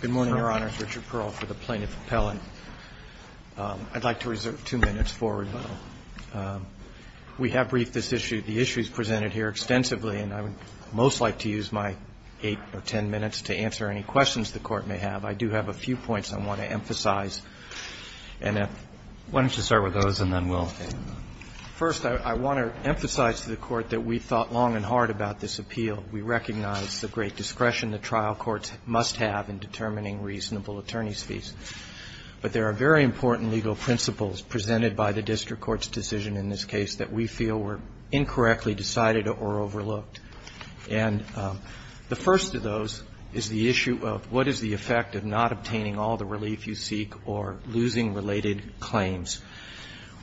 Good morning, Your Honors. Richard Pearl for the Plaintiff Appellant. I'd like to reserve two minutes forward. We have briefed this issue. The issue is presented here extensively and I would most like to use my eight or ten minutes to answer any questions the Court may have. I do have a few points I want to emphasize. Why don't you start with those and then we'll take them on. First, I want to emphasize to the Court that we thought long and hard about this appeal. We recognize the great discretion the trial courts must have in determining reasonable attorney's fees. But there are very important legal principles presented by the district court's decision in this case that we feel were incorrectly decided or overlooked. And the first of those is the issue of what is the effect of not obtaining all the relief you seek or losing related claims.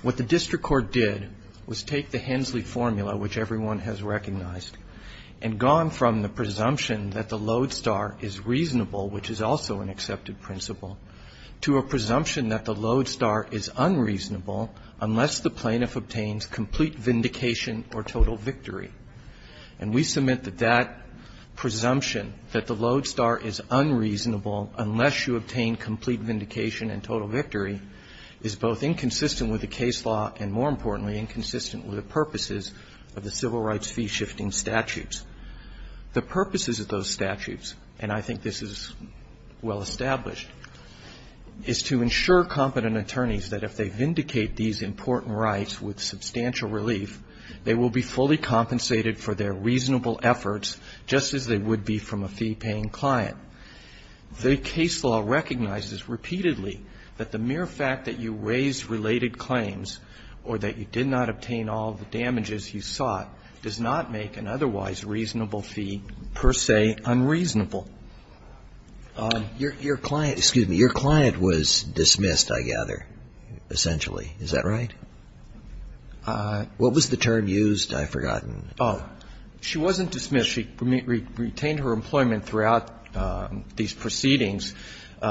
What the district court did was take the Hensley formula, which everyone has recognized, and gone from the presumption that the load star is reasonable, which is also an accepted principle, to a presumption that the load star is unreasonable unless the plaintiff obtains complete vindication or total victory. And we submit that that presumption, that the load star is unreasonable unless you obtain complete vindication and total victory, is both inconsistent with the case law and, more importantly, inconsistent with the purposes of the civil rights fee-shifting statutes. The purposes of those statutes, and I think this is well established, is to ensure competent attorneys that if they vindicate these important rights with substantial relief, they will be fully compensated for their reasonable efforts just as they would be from a fee-paying client. The case law recognizes repeatedly that the mere fact that you raise related claims or that you did not obtain all the damages you sought does not make an otherwise reasonable fee, per se, unreasonable. Your client, excuse me, your client was dismissed, I gather, essentially. Is that right? What was the term used? I've forgotten. Oh. She wasn't dismissed. She retained her employment throughout these proceedings.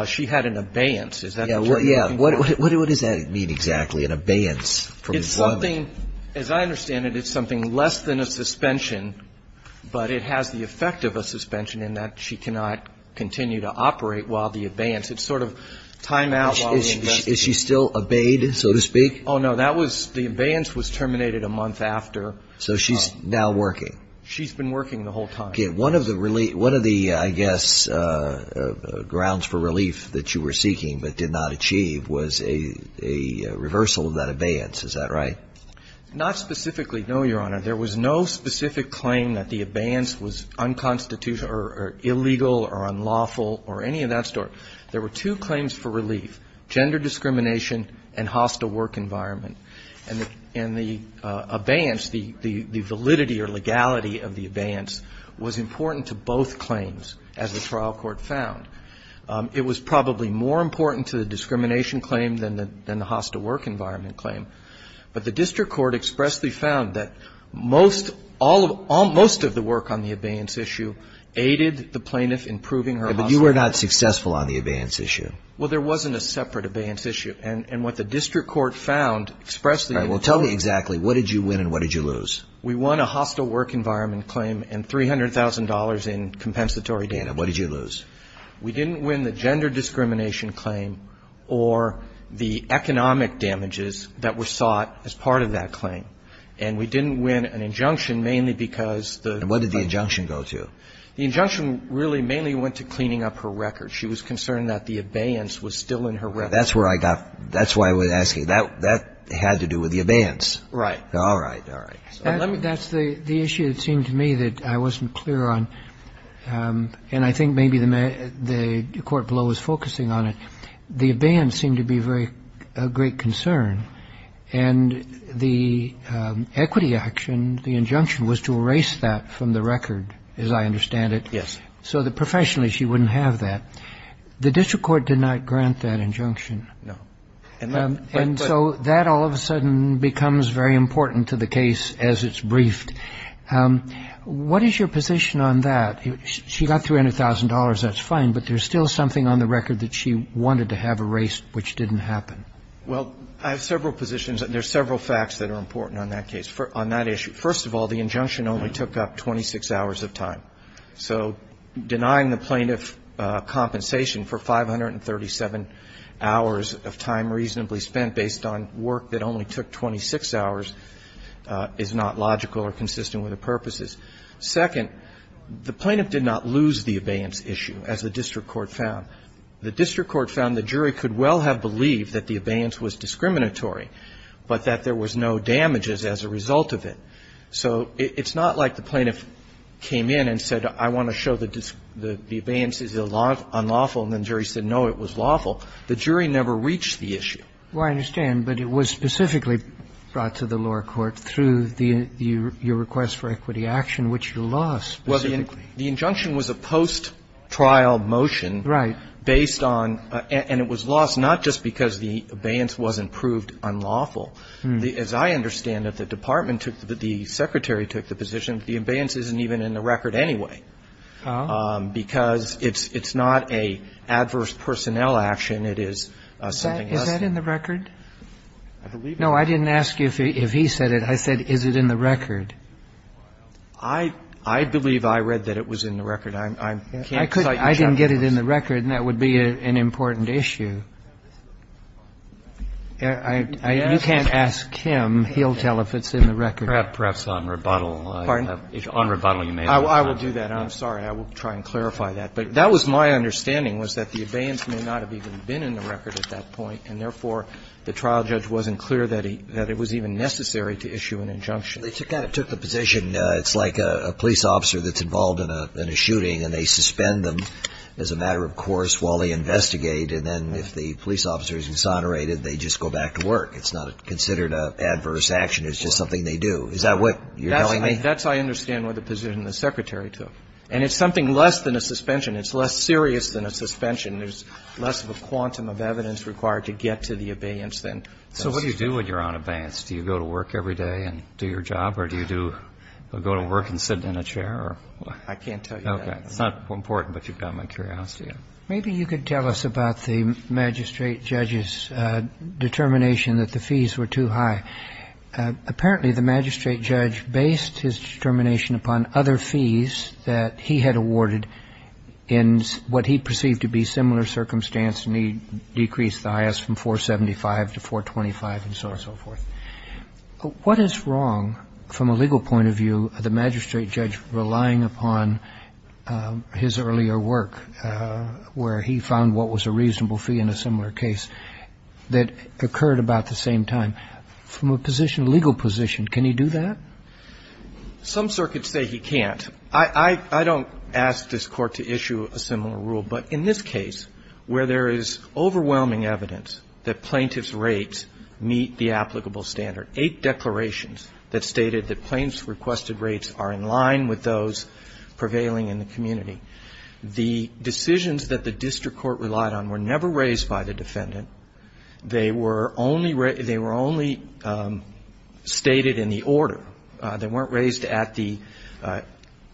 She had an abeyance. Is that the term you're looking for? Yeah. What does that mean exactly, an abeyance from employment? It's something, as I understand it, it's something less than a suspension, but it has the effect of a suspension in that she cannot continue to operate while the abeyance It's sort of time out while we investigate. Is she still obeyed, so to speak? Oh, no. That was the abeyance was terminated a month after. So she's now working. She's been working the whole time. Okay. One of the relief, one of the, I guess, grounds for relief that you were seeking but did not achieve was a reversal of that abeyance. Is that right? Not specifically, no, Your Honor. There was no specific claim that the abeyance was unconstitutional or illegal or unlawful or any of that sort. There were two claims for relief, gender discrimination and hostile work environment. And the abeyance, the validity or legality of the abeyance was important to both claims, as the trial court found. It was probably more important to the discrimination claim than the hostile work environment claim. But the district court expressly found that most of the work on the abeyance issue aided the plaintiff in proving her hostile work environment. But you were not successful on the abeyance issue. Well, there wasn't a separate abeyance issue. And what the district court found expressly. All right. Well, tell me exactly. What did you win and what did you lose? We won a hostile work environment claim and $300,000 in compensatory data. What did you lose? We didn't win the gender discrimination claim or the economic damages that were sought as part of that claim. And we didn't win an injunction mainly because the ---- And what did the injunction go to? The injunction really mainly went to cleaning up her record. She was concerned that the abeyance was still in her record. That's where I got ---- that's why I was asking. That had to do with the abeyance. Right. All right. All right. That's the issue, it seemed to me, that I wasn't clear on. And I think maybe the court below was focusing on it. The abeyance seemed to be a great concern. And the equity action, the injunction, was to erase that from the record, as I understand it. Yes. So the professional issue wouldn't have that. The district court did not grant that injunction. No. And so that all of a sudden becomes very important to the case as it's briefed. What is your position on that? She got $300,000. That's fine. But there's still something on the record that she wanted to have erased which didn't happen. Well, I have several positions. There are several facts that are important on that case, on that issue. First of all, the injunction only took up 26 hours of time. So denying the plaintiff compensation for 537 hours of time reasonably spent based on work that only took 26 hours is not logical or consistent with the purposes. Second, the plaintiff did not lose the abeyance issue, as the district court found. The district court found the jury could well have believed that the abeyance was discriminatory, but that there was no damages as a result of it. So it's not like the plaintiff came in and said, I want to show that the abeyance is unlawful, and the jury said, no, it was lawful. The jury never reached the issue. Well, I understand. But it was specifically brought to the lower court through your request for equity action, which you lost specifically. Well, the injunction was a post-trial motion based on – and it was lost not just because the abeyance wasn't proved unlawful. As I understand it, the department took the – the secretary took the position that the abeyance isn't even in the record anyway, because it's not an adverse personnel action. It is something else. Is that in the record? I believe it is. No, I didn't ask you if he said it. I said, is it in the record? I believe I read that it was in the record. I can't cite the checklist. I didn't get it in the record, and that would be an important issue. You can't ask him. He'll tell if it's in the record. Perhaps on rebuttal. Pardon? On rebuttal, you may not. I will do that. I'm sorry. I will try and clarify that. But that was my understanding, was that the abeyance may not have even been in the record at that point, and therefore, the trial judge wasn't clear that he – that it was even necessary to issue an injunction. They kind of took the position it's like a police officer that's involved in a shooting, and they suspend them as a matter of course while they investigate. And then if the police officer is exonerated, they just go back to work. It's not considered an adverse action. It's just something they do. Is that what you're telling me? That's – I understand what the position the Secretary took. And it's something less than a suspension. It's less serious than a suspension. There's less of a quantum of evidence required to get to the abeyance than a suspension. So what do you do when you're on abeyance? Do you go to work every day and do your job, or do you do – go to work and sit in a chair? I can't tell you that. Okay. It's not important, but you've got my curiosity. Maybe you could tell us about the magistrate judge's determination that the fees were too high. Apparently, the magistrate judge based his determination upon other fees that he had awarded in what he perceived to be similar circumstances, and he decreased the highest from 475 to 425 and so on and so forth. What is wrong, from a legal point of view, the magistrate judge relying upon his earlier work, where he found what was a reasonable fee in a similar case that occurred about the same time? From a position, legal position, can he do that? Some circuits say he can't. I don't ask this Court to issue a similar rule, but in this case, where there is overwhelming evidence that plaintiff's rates meet the applicable standard, eight declarations that stated that plaintiff's requested rates are in line with those prevailing in the community, the decisions that the district court relied on were never raised by the defendant. They were only stated in the order. They weren't raised at the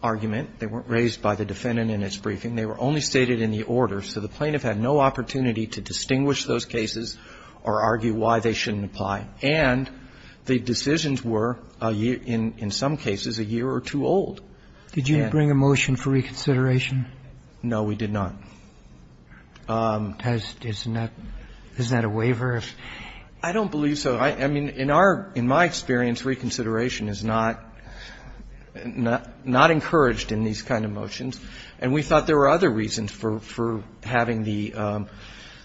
argument. They weren't raised by the defendant in its briefing. They were only stated in the order. So the plaintiff had no opportunity to distinguish those cases or argue why they shouldn't apply. And the decisions were, in some cases, a year or two old. Did you bring a motion for reconsideration? No, we did not. Is that a waiver? I don't believe so. I mean, in our, in my experience, reconsideration is not encouraged in these kind of motions. And we thought there were other reasons for having the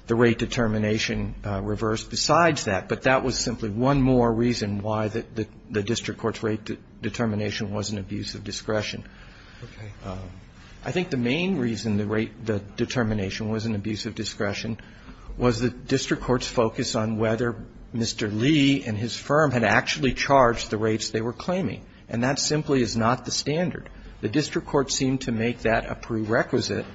rate determination reversed besides that, but that was simply one more reason why the district court's rate determination was an abuse of discretion. I think the main reason the rate determination was an abuse of discretion was the district court's focus on whether Mr. Lee and his firm had actually charged the rates they were claiming. And that simply is not the standard. The district court seemed to make that a prerequisite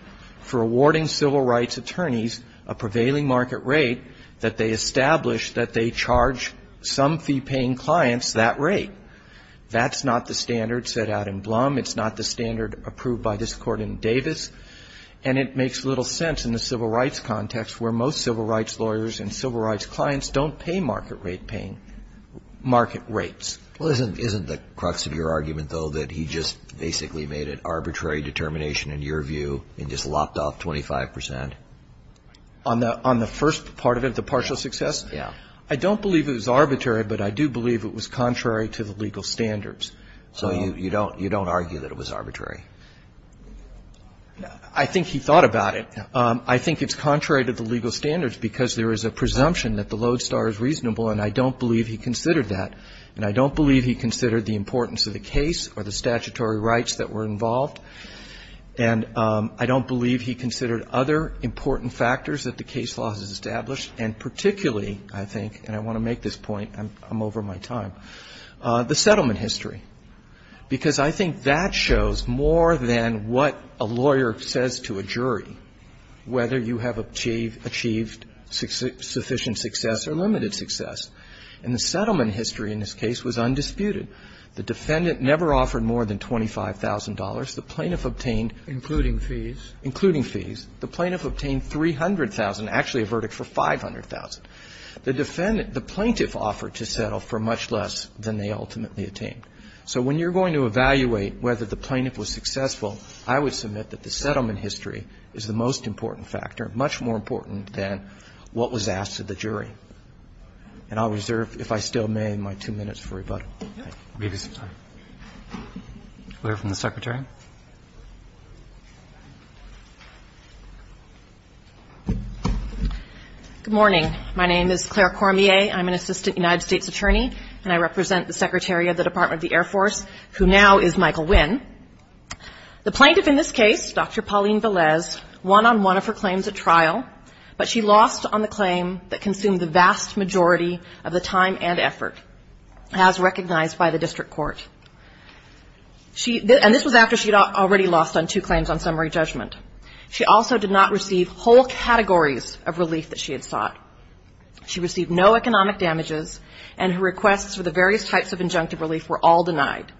for awarding civil rights attorneys a prevailing market rate that they establish that they charge some fee-paying clients that rate. That's not the standard set out in Blum. It's not the standard approved by this Court in Davis. And it makes little sense in the civil rights context where most civil rights lawyers and civil rights clients don't pay market rate paying, market rates. Well, isn't the crux of your argument, though, that he just basically made an arbitrary determination in your view and just lopped off 25 percent? On the first part of it, the partial success? Yeah. I don't believe it was arbitrary, but I do believe it was contrary to the legal standards. So you don't argue that it was arbitrary? I think he thought about it. I think it's contrary to the legal standards because there is a presumption that the lodestar is reasonable, and I don't believe he considered that. And I don't believe he considered the importance of the case or the statutory rights that were involved. And I don't believe he considered other important factors that the case law has established and particularly, I think, and I want to make this point, I'm over my time, the settlement history, because I think that shows more than what a lawyer says to a jury, whether you have achieved sufficient success or limited success. And the settlement history in this case was undisputed. The defendant never offered more than $25,000. The plaintiff obtained. Including fees? Including fees. The plaintiff obtained $300,000, actually a verdict for $500,000. The defendant, the plaintiff offered to settle for much less than they ultimately attained. So when you're going to evaluate whether the plaintiff was successful, I would submit that the settlement history is the most important factor, much more important than what was asked of the jury. And I'll reserve, if I still may, my two minutes for rebuttal. Thank you. Roberts. Clear from the Secretary. Good morning. My name is Claire Cormier. I'm an Assistant United States Attorney, and I represent the Secretary of the Department of the Air Force, who now is Michael Winn. The plaintiff in this case, Dr. Pauline Velez, won on one of her claims at trial, but she lost on the claim that consumed the vast majority of the time and effort, as recognized by the district court. And this was after she had already lost on two claims on summary judgment. She also did not receive whole categories of relief that she had sought. She received no economic damages, and her requests for the various types of injunctive relief were all denied.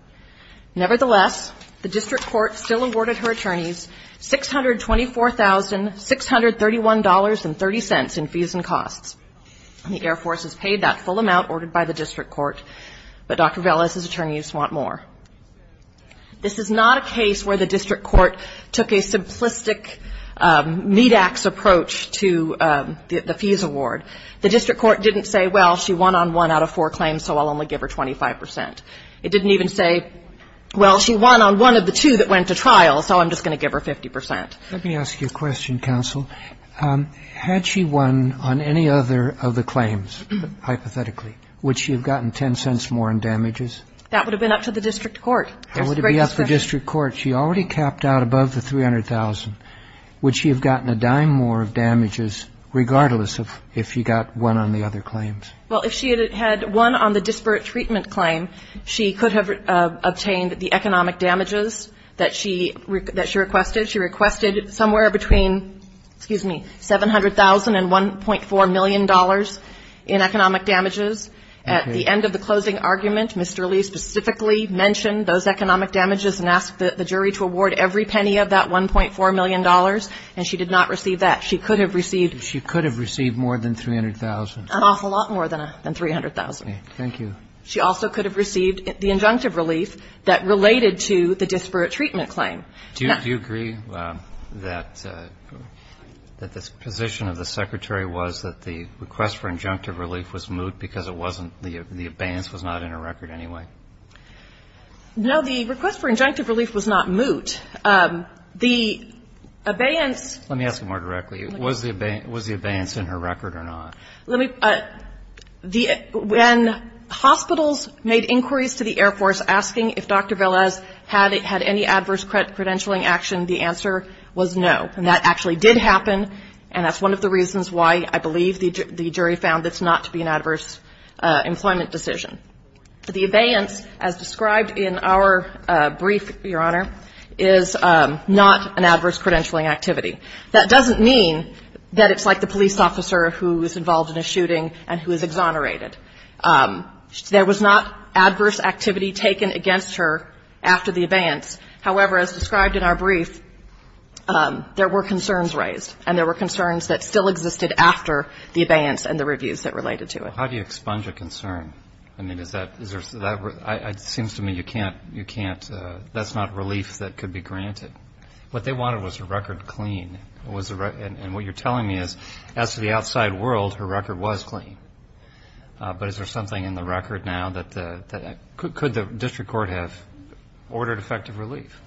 Nevertheless, the district court still awarded her attorneys $624,631.30 in fees and costs. The Air Force has paid that full amount ordered by the district court, but Dr. Velez's attorneys want more. This is not a case where the district court took a simplistic meat-ax approach to the fees award. The district court didn't say, well, she won on one out of four claims, so I'll only give her 25%. It didn't even say, well, she won on one of the two that went to trial, so I'm just going to give her 50%. Let me ask you a question, counsel. Had she won on any other of the claims, hypothetically, would she have gotten $0.10 more in damages? That would have been up to the district court. How would it be up to the district court? She already capped out above the $300,000. Would she have gotten a dime more of damages, regardless of if she got one on the other claims? Well, if she had won on the disparate treatment claim, she could have obtained the economic damages that she requested. She requested somewhere between, excuse me, $700,000 and $1.4 million in economic damages. At the end of the closing argument, Mr. Lee specifically mentioned those economic damages and asked the jury to award every penny of that $1.4 million, and she did not receive that. She could have received ---- She could have received more than $300,000. An awful lot more than $300,000. Thank you. She also could have received the injunctive relief that related to the disparate treatment claim. Do you agree that the position of the Secretary was that the request for injunctive relief was moot because it wasn't, the abeyance was not in her record anyway? No, the request for injunctive relief was not moot. The abeyance ---- Let me ask you more directly. Was the abeyance in her record or not? Let me ---- When hospitals made inquiries to the Air Force asking if Dr. Velez had any adverse credentialing action, the answer was no. And that actually did happen, and that's one of the reasons why I believe the jury found this not to be an adverse employment decision. The abeyance, as described in our brief, Your Honor, is not an adverse credentialing activity. That doesn't mean that it's like the police officer who is involved in a shooting and who is exonerated. There was not adverse activity taken against her after the abeyance. However, as described in our brief, there were concerns raised, and there were concerns that still existed after the abeyance and the reviews that related to it. How do you expunge a concern? I mean, is that, is there, that seems to me you can't, you can't, that's not relief that could be granted. What they wanted was a record clean. And what you're telling me is, as to the outside world, her record was clean. But is there something in the record now that the, could the district court have ordered effective relief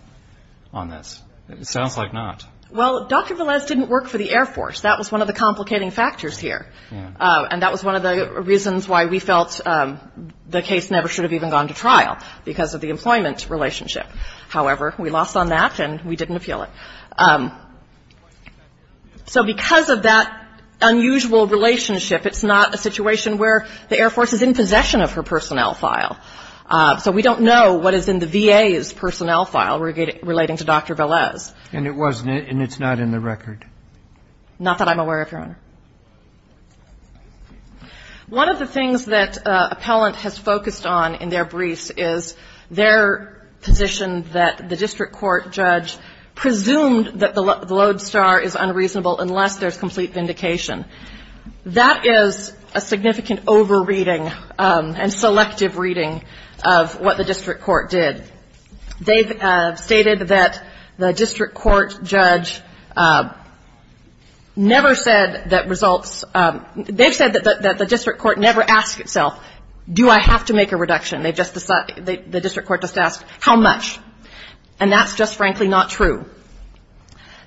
on this? It sounds like not. Well, Dr. Velez didn't work for the Air Force. That was one of the complicating factors here. And that was one of the reasons why we felt the case never should have even gone to trial, because of the employment relationship. However, we lost on that, and we didn't appeal it. So because of that unusual relationship, it's not a situation where the Air Force is in possession of her personnel file. So we don't know what is in the VA's personnel file relating to Dr. Velez. And it wasn't, and it's not in the record? Not that I'm aware of, Your Honor. One of the things that appellant has focused on in their briefs is their position that the district court judge presumed that the lodestar is unreasonable unless there's complete vindication. That is a significant over-reading and selective reading of what the district court did. They've stated that the district court judge never said that results, they've said that the district court never asked itself, do I have to make a reduction? The district court just asked, how much? And that's just frankly not true.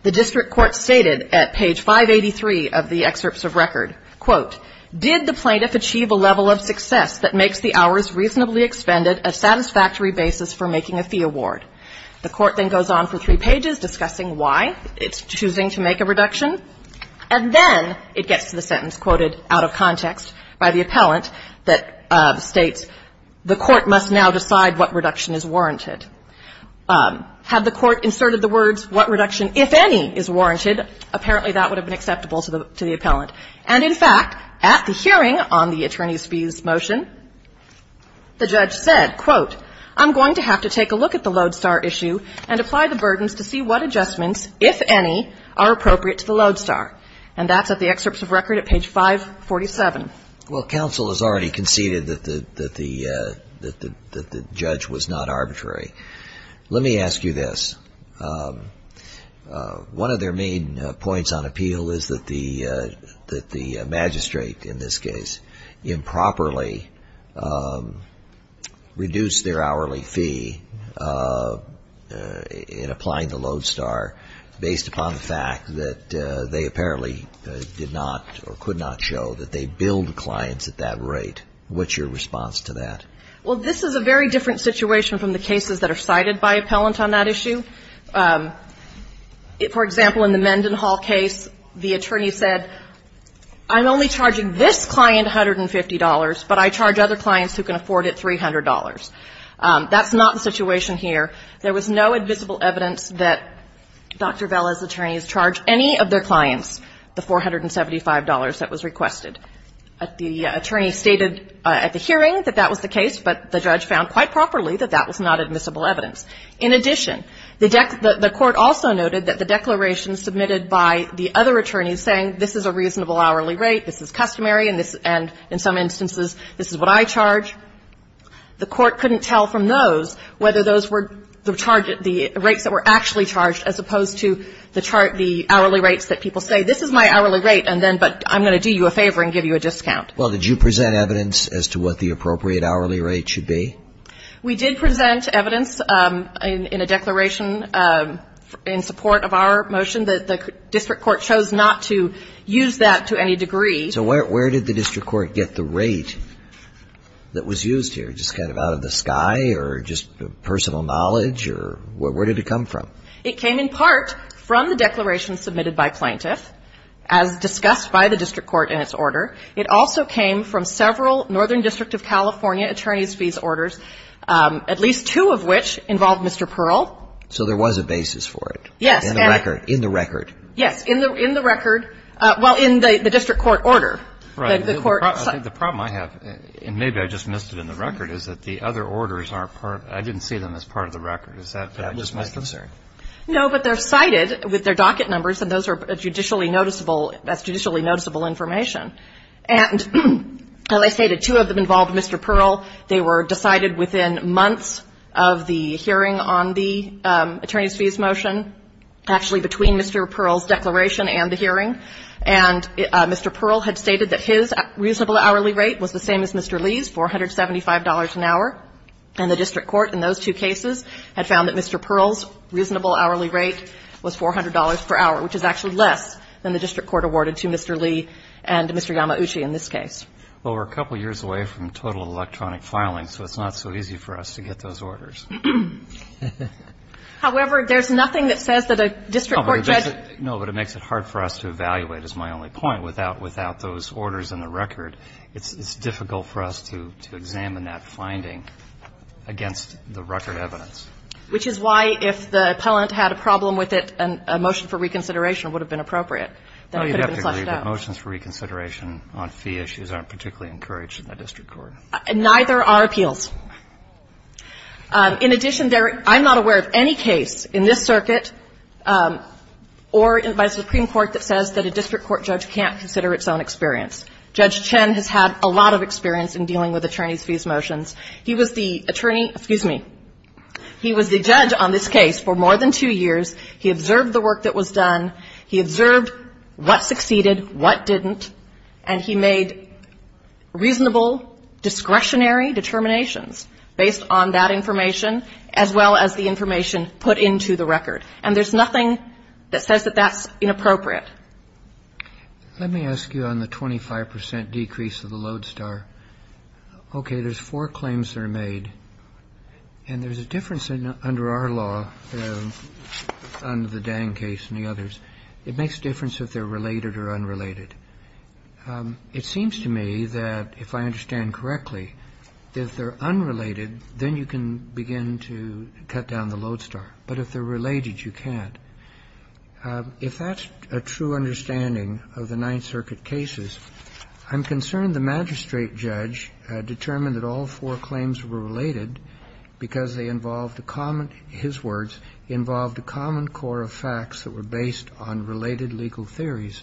The district court stated at page 583 of the excerpts of record, quote, did the plaintiff achieve a level of success that makes the hours reasonably expended a satisfactory basis for making a fee award? The court then goes on for three pages discussing why it's choosing to make a reduction. And then it gets to the sentence quoted out of context by the appellant that states, the court must now decide what reduction is warranted. Had the court inserted the words, what reduction, if any, is warranted, apparently that would have been acceptable to the appellant. And in fact, at the hearing on the attorney's fees motion, the judge said, quote, I'm going to have to take a look at the Lodestar issue and apply the burdens to see what adjustments, if any, are appropriate to the Lodestar. And that's at the excerpts of record at page 547. Well, counsel has already conceded that the judge was not arbitrary. Let me ask you this. One of their main points on appeal is that the magistrate, in this case, improperly reduced their hourly fee in applying the Lodestar based upon the fact that they apparently did not or could not show that they billed the clients at that rate. What's your response to that? Well, this is a very different situation from the cases that are cited by appellant on that issue. For example, in the Mendenhall case, the attorney said, I'm only charging this client $150, but I charge other clients who can afford it $300. That's not the situation here. There was no invisible evidence that Dr. Vella's attorneys charged any of their clients the $475 that was requested. The attorney stated at the hearing that that was the case, but the judge found quite properly that that was not admissible evidence. In addition, the court also noted that the declaration submitted by the other attorneys saying this is a reasonable hourly rate, this is customary, and in some instances this is what I charge, the court couldn't tell from those whether those were the rates that were actually charged as opposed to the hourly rates that people say, this is my hourly rate, but I'm going to do you a favor and give you a discount. Well, did you present evidence as to what the appropriate hourly rate should be? We did present evidence in a declaration in support of our motion that the district court chose not to use that to any degree. So where did the district court get the rate that was used here? Just kind of out of the sky or just personal knowledge or where did it come from? It came in part from the declaration submitted by plaintiff, as discussed by the district court in its order. It also came from several Northern District of California attorneys' fees orders, at least two of which involved Mr. Pearl. So there was a basis for it? Yes. In the record? Yes. In the record. Well, in the district court order. Right. The court. The problem I have, and maybe I just missed it in the record, is that the other orders are part of the record. I didn't see them as part of the record. Is that just my concern? No, but they're cited with their docket numbers, and those are judicially noticeable as judicially noticeable information. And as I stated, two of them involved Mr. Pearl. They were decided within months of the hearing on the attorneys' fees motion, actually between Mr. Pearl's declaration and the hearing. And Mr. Pearl had stated that his reasonable hourly rate was the same as Mr. Lee's, $475 an hour. And the district court in those two cases had found that Mr. Pearl's reasonable hourly rate was $400 per hour, which is actually less than the district court awarded to Mr. Lee and Mr. Yamauchi in this case. Well, we're a couple of years away from total electronic filing, so it's not so easy for us to get those orders. However, there's nothing that says that a district court judge. No, but it makes it hard for us to evaluate, is my only point, without those orders in the record. It's difficult for us to examine that finding against the record evidence. Which is why, if the appellant had a problem with it and a motion for reconsideration would have been appropriate, then it could have been flushed out. I would have to agree that motions for reconsideration on fee issues aren't particularly encouraged in the district court. Neither are appeals. In addition, I'm not aware of any case in this circuit or by a Supreme Court that says that a district court judge can't consider its own experience. Judge Chen has had a lot of experience in dealing with attorneys' fees motions. He was the attorney – excuse me. He was the judge on this case for more than two years. He observed the work that was done. He observed what succeeded, what didn't. And he made reasonable discretionary determinations based on that information as well as the information put into the record. And there's nothing that says that that's inappropriate. Let me ask you on the 25 percent decrease of the lodestar. Okay, there's four claims that are made. And there's a difference under our law under the Dang case and the others. It makes a difference if they're related or unrelated. It seems to me that, if I understand correctly, if they're unrelated, then you can begin to cut down the lodestar. But if they're related, you can't. If that's a true understanding of the Ninth Circuit cases, I'm concerned the magistrate judge determined that all four claims were related because they involved a common – his words – involved a common core of facts that were based on related legal theories.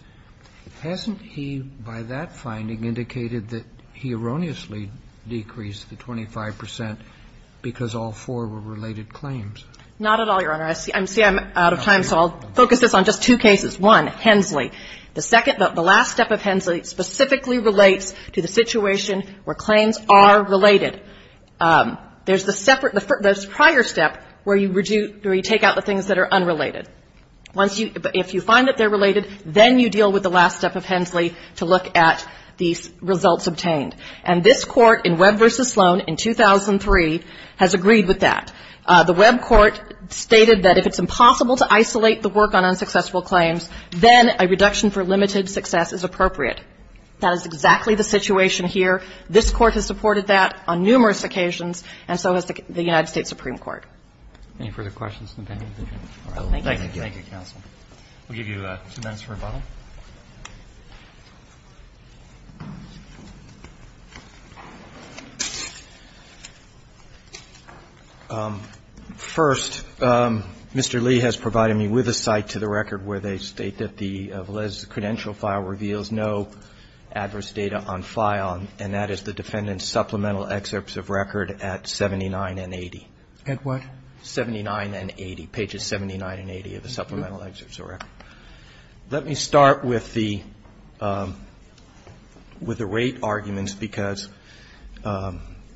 Hasn't he, by that finding, indicated that he erroneously decreased the 25 percent because all four were related claims? Not at all, Your Honor. I see I'm out of time, so I'll focus this on just two cases. One, Hensley. The second – the last step of Hensley specifically relates to the situation where claims are related. There's the separate – the prior step where you take out the things that are unrelated. Once you – if you find that they're related, then you deal with the last step of Hensley to look at these results obtained. And this Court in Webb v. Sloan in 2003 has agreed with that. The Webb court stated that if it's impossible to isolate the work on unsuccessful claims, then a reduction for limited success is appropriate. That is exactly the situation here. This Court has supported that on numerous occasions, and so has the United States Supreme Court. Any further questions? We'll give you two minutes for rebuttal. First, Mr. Lee has provided me with a cite to the record where they state that the Valese credential file reveals no adverse data on file, and that is the defendant's supplemental excerpts of record at 79 and 80. At what? 79 and 80, pages 79 and 80 of the supplemental excerpts of record. Let me start with the – with the rate arguments because,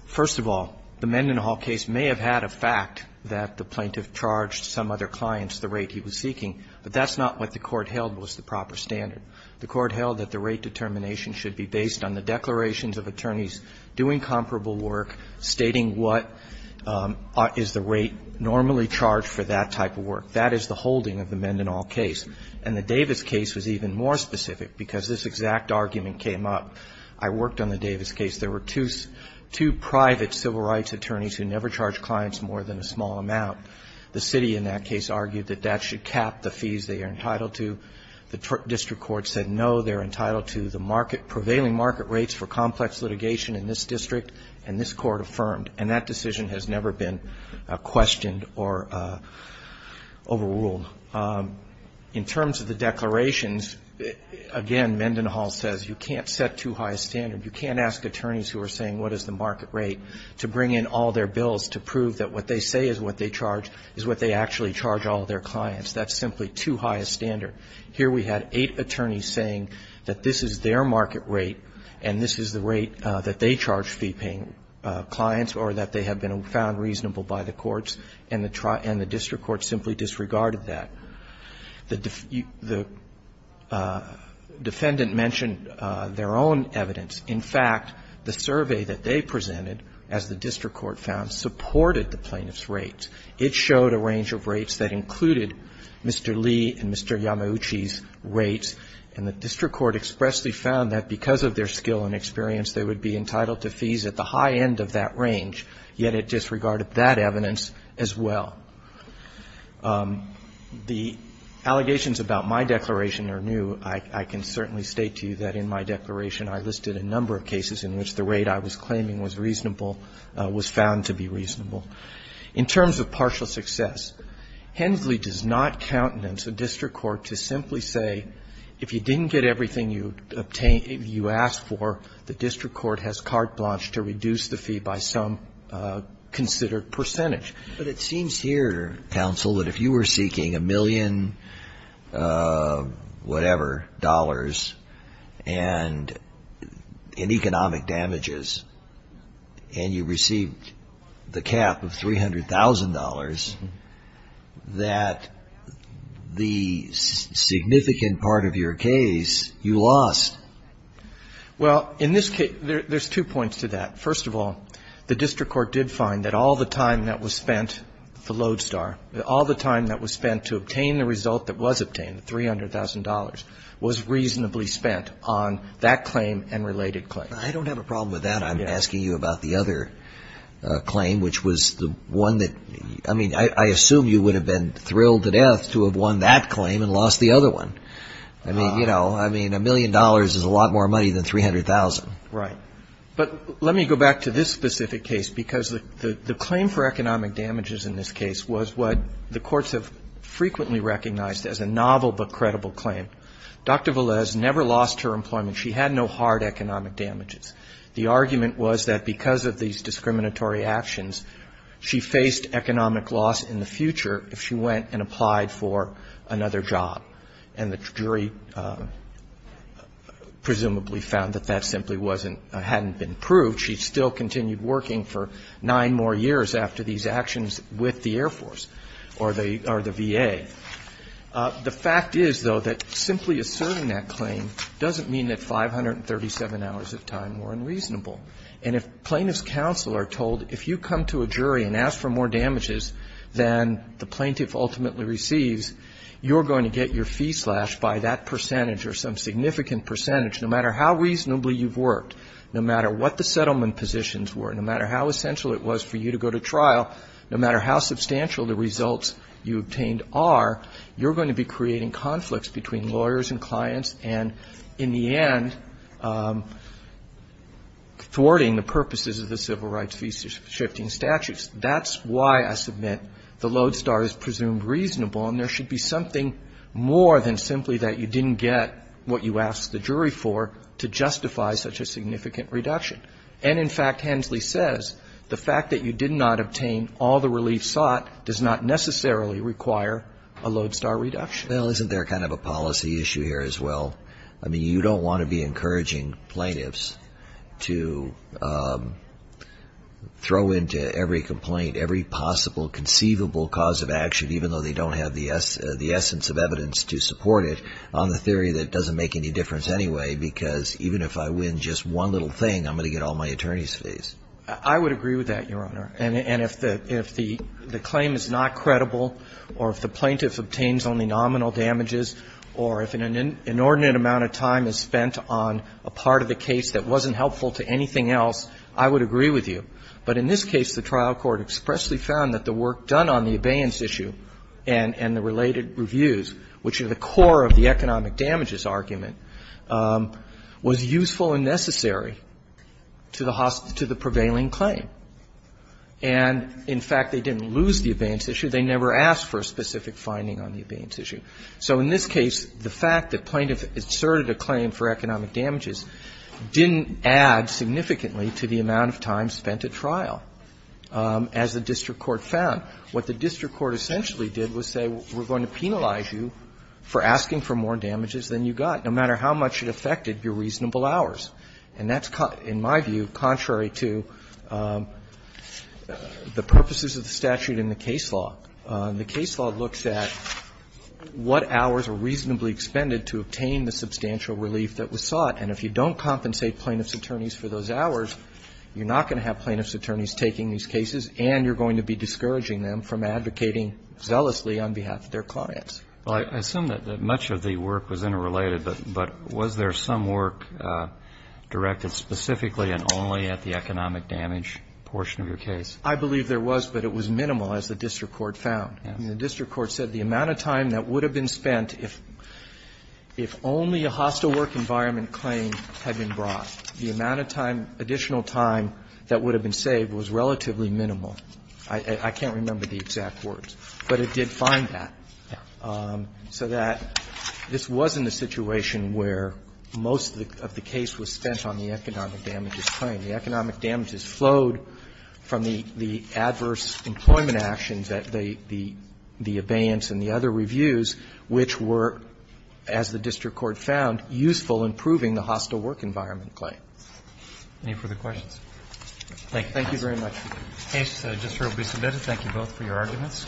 first of all, the Mendenhall case may have had a fact that the plaintiff charged some other clients the rate he was seeking, but that's not what the Court held was the proper standard. The Court held that the rate determination should be based on the declarations of attorneys doing comparable work, stating what is the rate normally charged for that type of work. That is the holding of the Mendenhall case. And the Davis case was even more specific because this exact argument came up. I worked on the Davis case. There were two private civil rights attorneys who never charged clients more than a small amount. The city in that case argued that that should cap the fees they are entitled to. The district court said, no, they're entitled to the prevailing market rates for complex litigation in this district, and this Court affirmed. And that decision has never been questioned or overruled. In terms of the declarations, again, Mendenhall says you can't set too high a standard. You can't ask attorneys who are saying what is the market rate to bring in all their bills to prove that what they say is what they charge is what they actually charge all their clients. That's simply too high a standard. Here we had eight attorneys saying that this is their market rate and this is the reasonable by the courts, and the district court simply disregarded that. The defendant mentioned their own evidence. In fact, the survey that they presented, as the district court found, supported the plaintiff's rates. It showed a range of rates that included Mr. Lee and Mr. Yamauchi's rates, and the district court expressly found that because of their skill and experience, they would be entitled to fees at the high end of that range, yet it disregarded that evidence as well. The allegations about my declaration are new. I can certainly state to you that in my declaration I listed a number of cases in which the rate I was claiming was reasonable was found to be reasonable. In terms of partial success, Hensley does not countenance a district court to simply say if you didn't get everything you asked for, the district court has carte blanche to reduce the fee by some considered percentage. But it seems here, counsel, that if you were seeking a million whatever dollars and economic damages, and you received the cap of $300,000, that the significant part of your case, you lost. Well, in this case, there's two points to that. First of all, the district court did find that all the time that was spent, the lodestar, all the time that was spent to obtain the result that was obtained, $300,000, was reasonably spent on that claim and related claims. I don't have a problem with that. I'm asking you about the other claim, which was the one that, I mean, I assume you would have been thrilled to death to have won that claim and lost the other one. I mean, you know, I mean, a million dollars is a lot more money than 300,000. Right. But let me go back to this specific case, because the claim for economic damages in this case was what the courts have frequently recognized as a novel but credible claim. Dr. Velez never lost her employment. She had no hard economic damages. The argument was that because of these discriminatory actions, she faced economic loss in the future if she went and applied for another job. And the jury presumably found that that simply wasn't or hadn't been proved. She still continued working for nine more years after these actions with the Air Force or the VA. The fact is, though, that simply asserting that claim doesn't mean that 537 hours of time were unreasonable. And if plaintiff's counsel are told, if you come to a jury and ask for more damages than the plaintiff ultimately receives, you're going to get your fee slashed by that percentage or some significant percentage, no matter how reasonably you've worked, no matter what the settlement positions were, no matter how essential it was for you to go to trial, no matter how substantial the results you obtained are, you're going to be creating conflicts between lawyers and clients and, in the end, thwarting the purposes of the civil rights fee-shifting statutes. That's why I submit the lodestar is presumed reasonable. And there should be something more than simply that you didn't get what you asked the jury for to justify such a significant reduction. And, in fact, Hensley says the fact that you did not obtain all the relief sought does not necessarily require a lodestar reduction. Well, isn't there kind of a policy issue here as well? I mean, you don't want to be encouraging plaintiffs to throw into every complaint every possible conceivable cause of action, even though they don't have the essence of evidence to support it, on the theory that it doesn't make any difference anyway, because even if I win just one little thing, I'm going to get all my attorney's I would agree with that, Your Honor. And if the claim is not credible or if the plaintiff obtains only nominal damages or if an inordinate amount of time is spent on a part of the case that wasn't helpful to anything else, I would agree with you. But in this case, the trial court expressly found that the work done on the abeyance issue and the related reviews, which are the core of the economic damages argument, was useful and necessary to the prevailing claim. And, in fact, they didn't lose the abeyance issue. They never asked for a specific finding on the abeyance issue. So in this case, the fact that plaintiffs asserted a claim for economic damages didn't add significantly to the amount of time spent at trial, as the district court found. What the district court essentially did was say, we're going to penalize you for asking for more damages than you got, no matter how much it affected your reasonable hours. And that's, in my view, contrary to the purposes of the statute in the case law. The case law looks at what hours were reasonably expended to obtain the substantial relief that was sought. And if you don't compensate plaintiff's attorneys for those hours, you're not going to have plaintiff's attorneys taking these cases and you're going to be discouraging them from advocating zealously on behalf of their clients. Well, I assume that much of the work was interrelated, but was there some work directed specifically and only at the economic damage portion of your case? I believe there was, but it was minimal, as the district court found. The district court said the amount of time that would have been spent if only a hostile work environment claim had been brought, the amount of time, additional time that would have been saved was relatively minimal. I can't remember the exact words, but it did find that. So that this wasn't a situation where most of the case was spent on the economic damages claim. The economic damages flowed from the adverse employment actions, the abeyance and the other reviews, which were, as the district court found, useful in proving the hostile work environment claim. Any further questions? Thank you. Thank you very much. The case just shortly submitted. Thank you both for your arguments.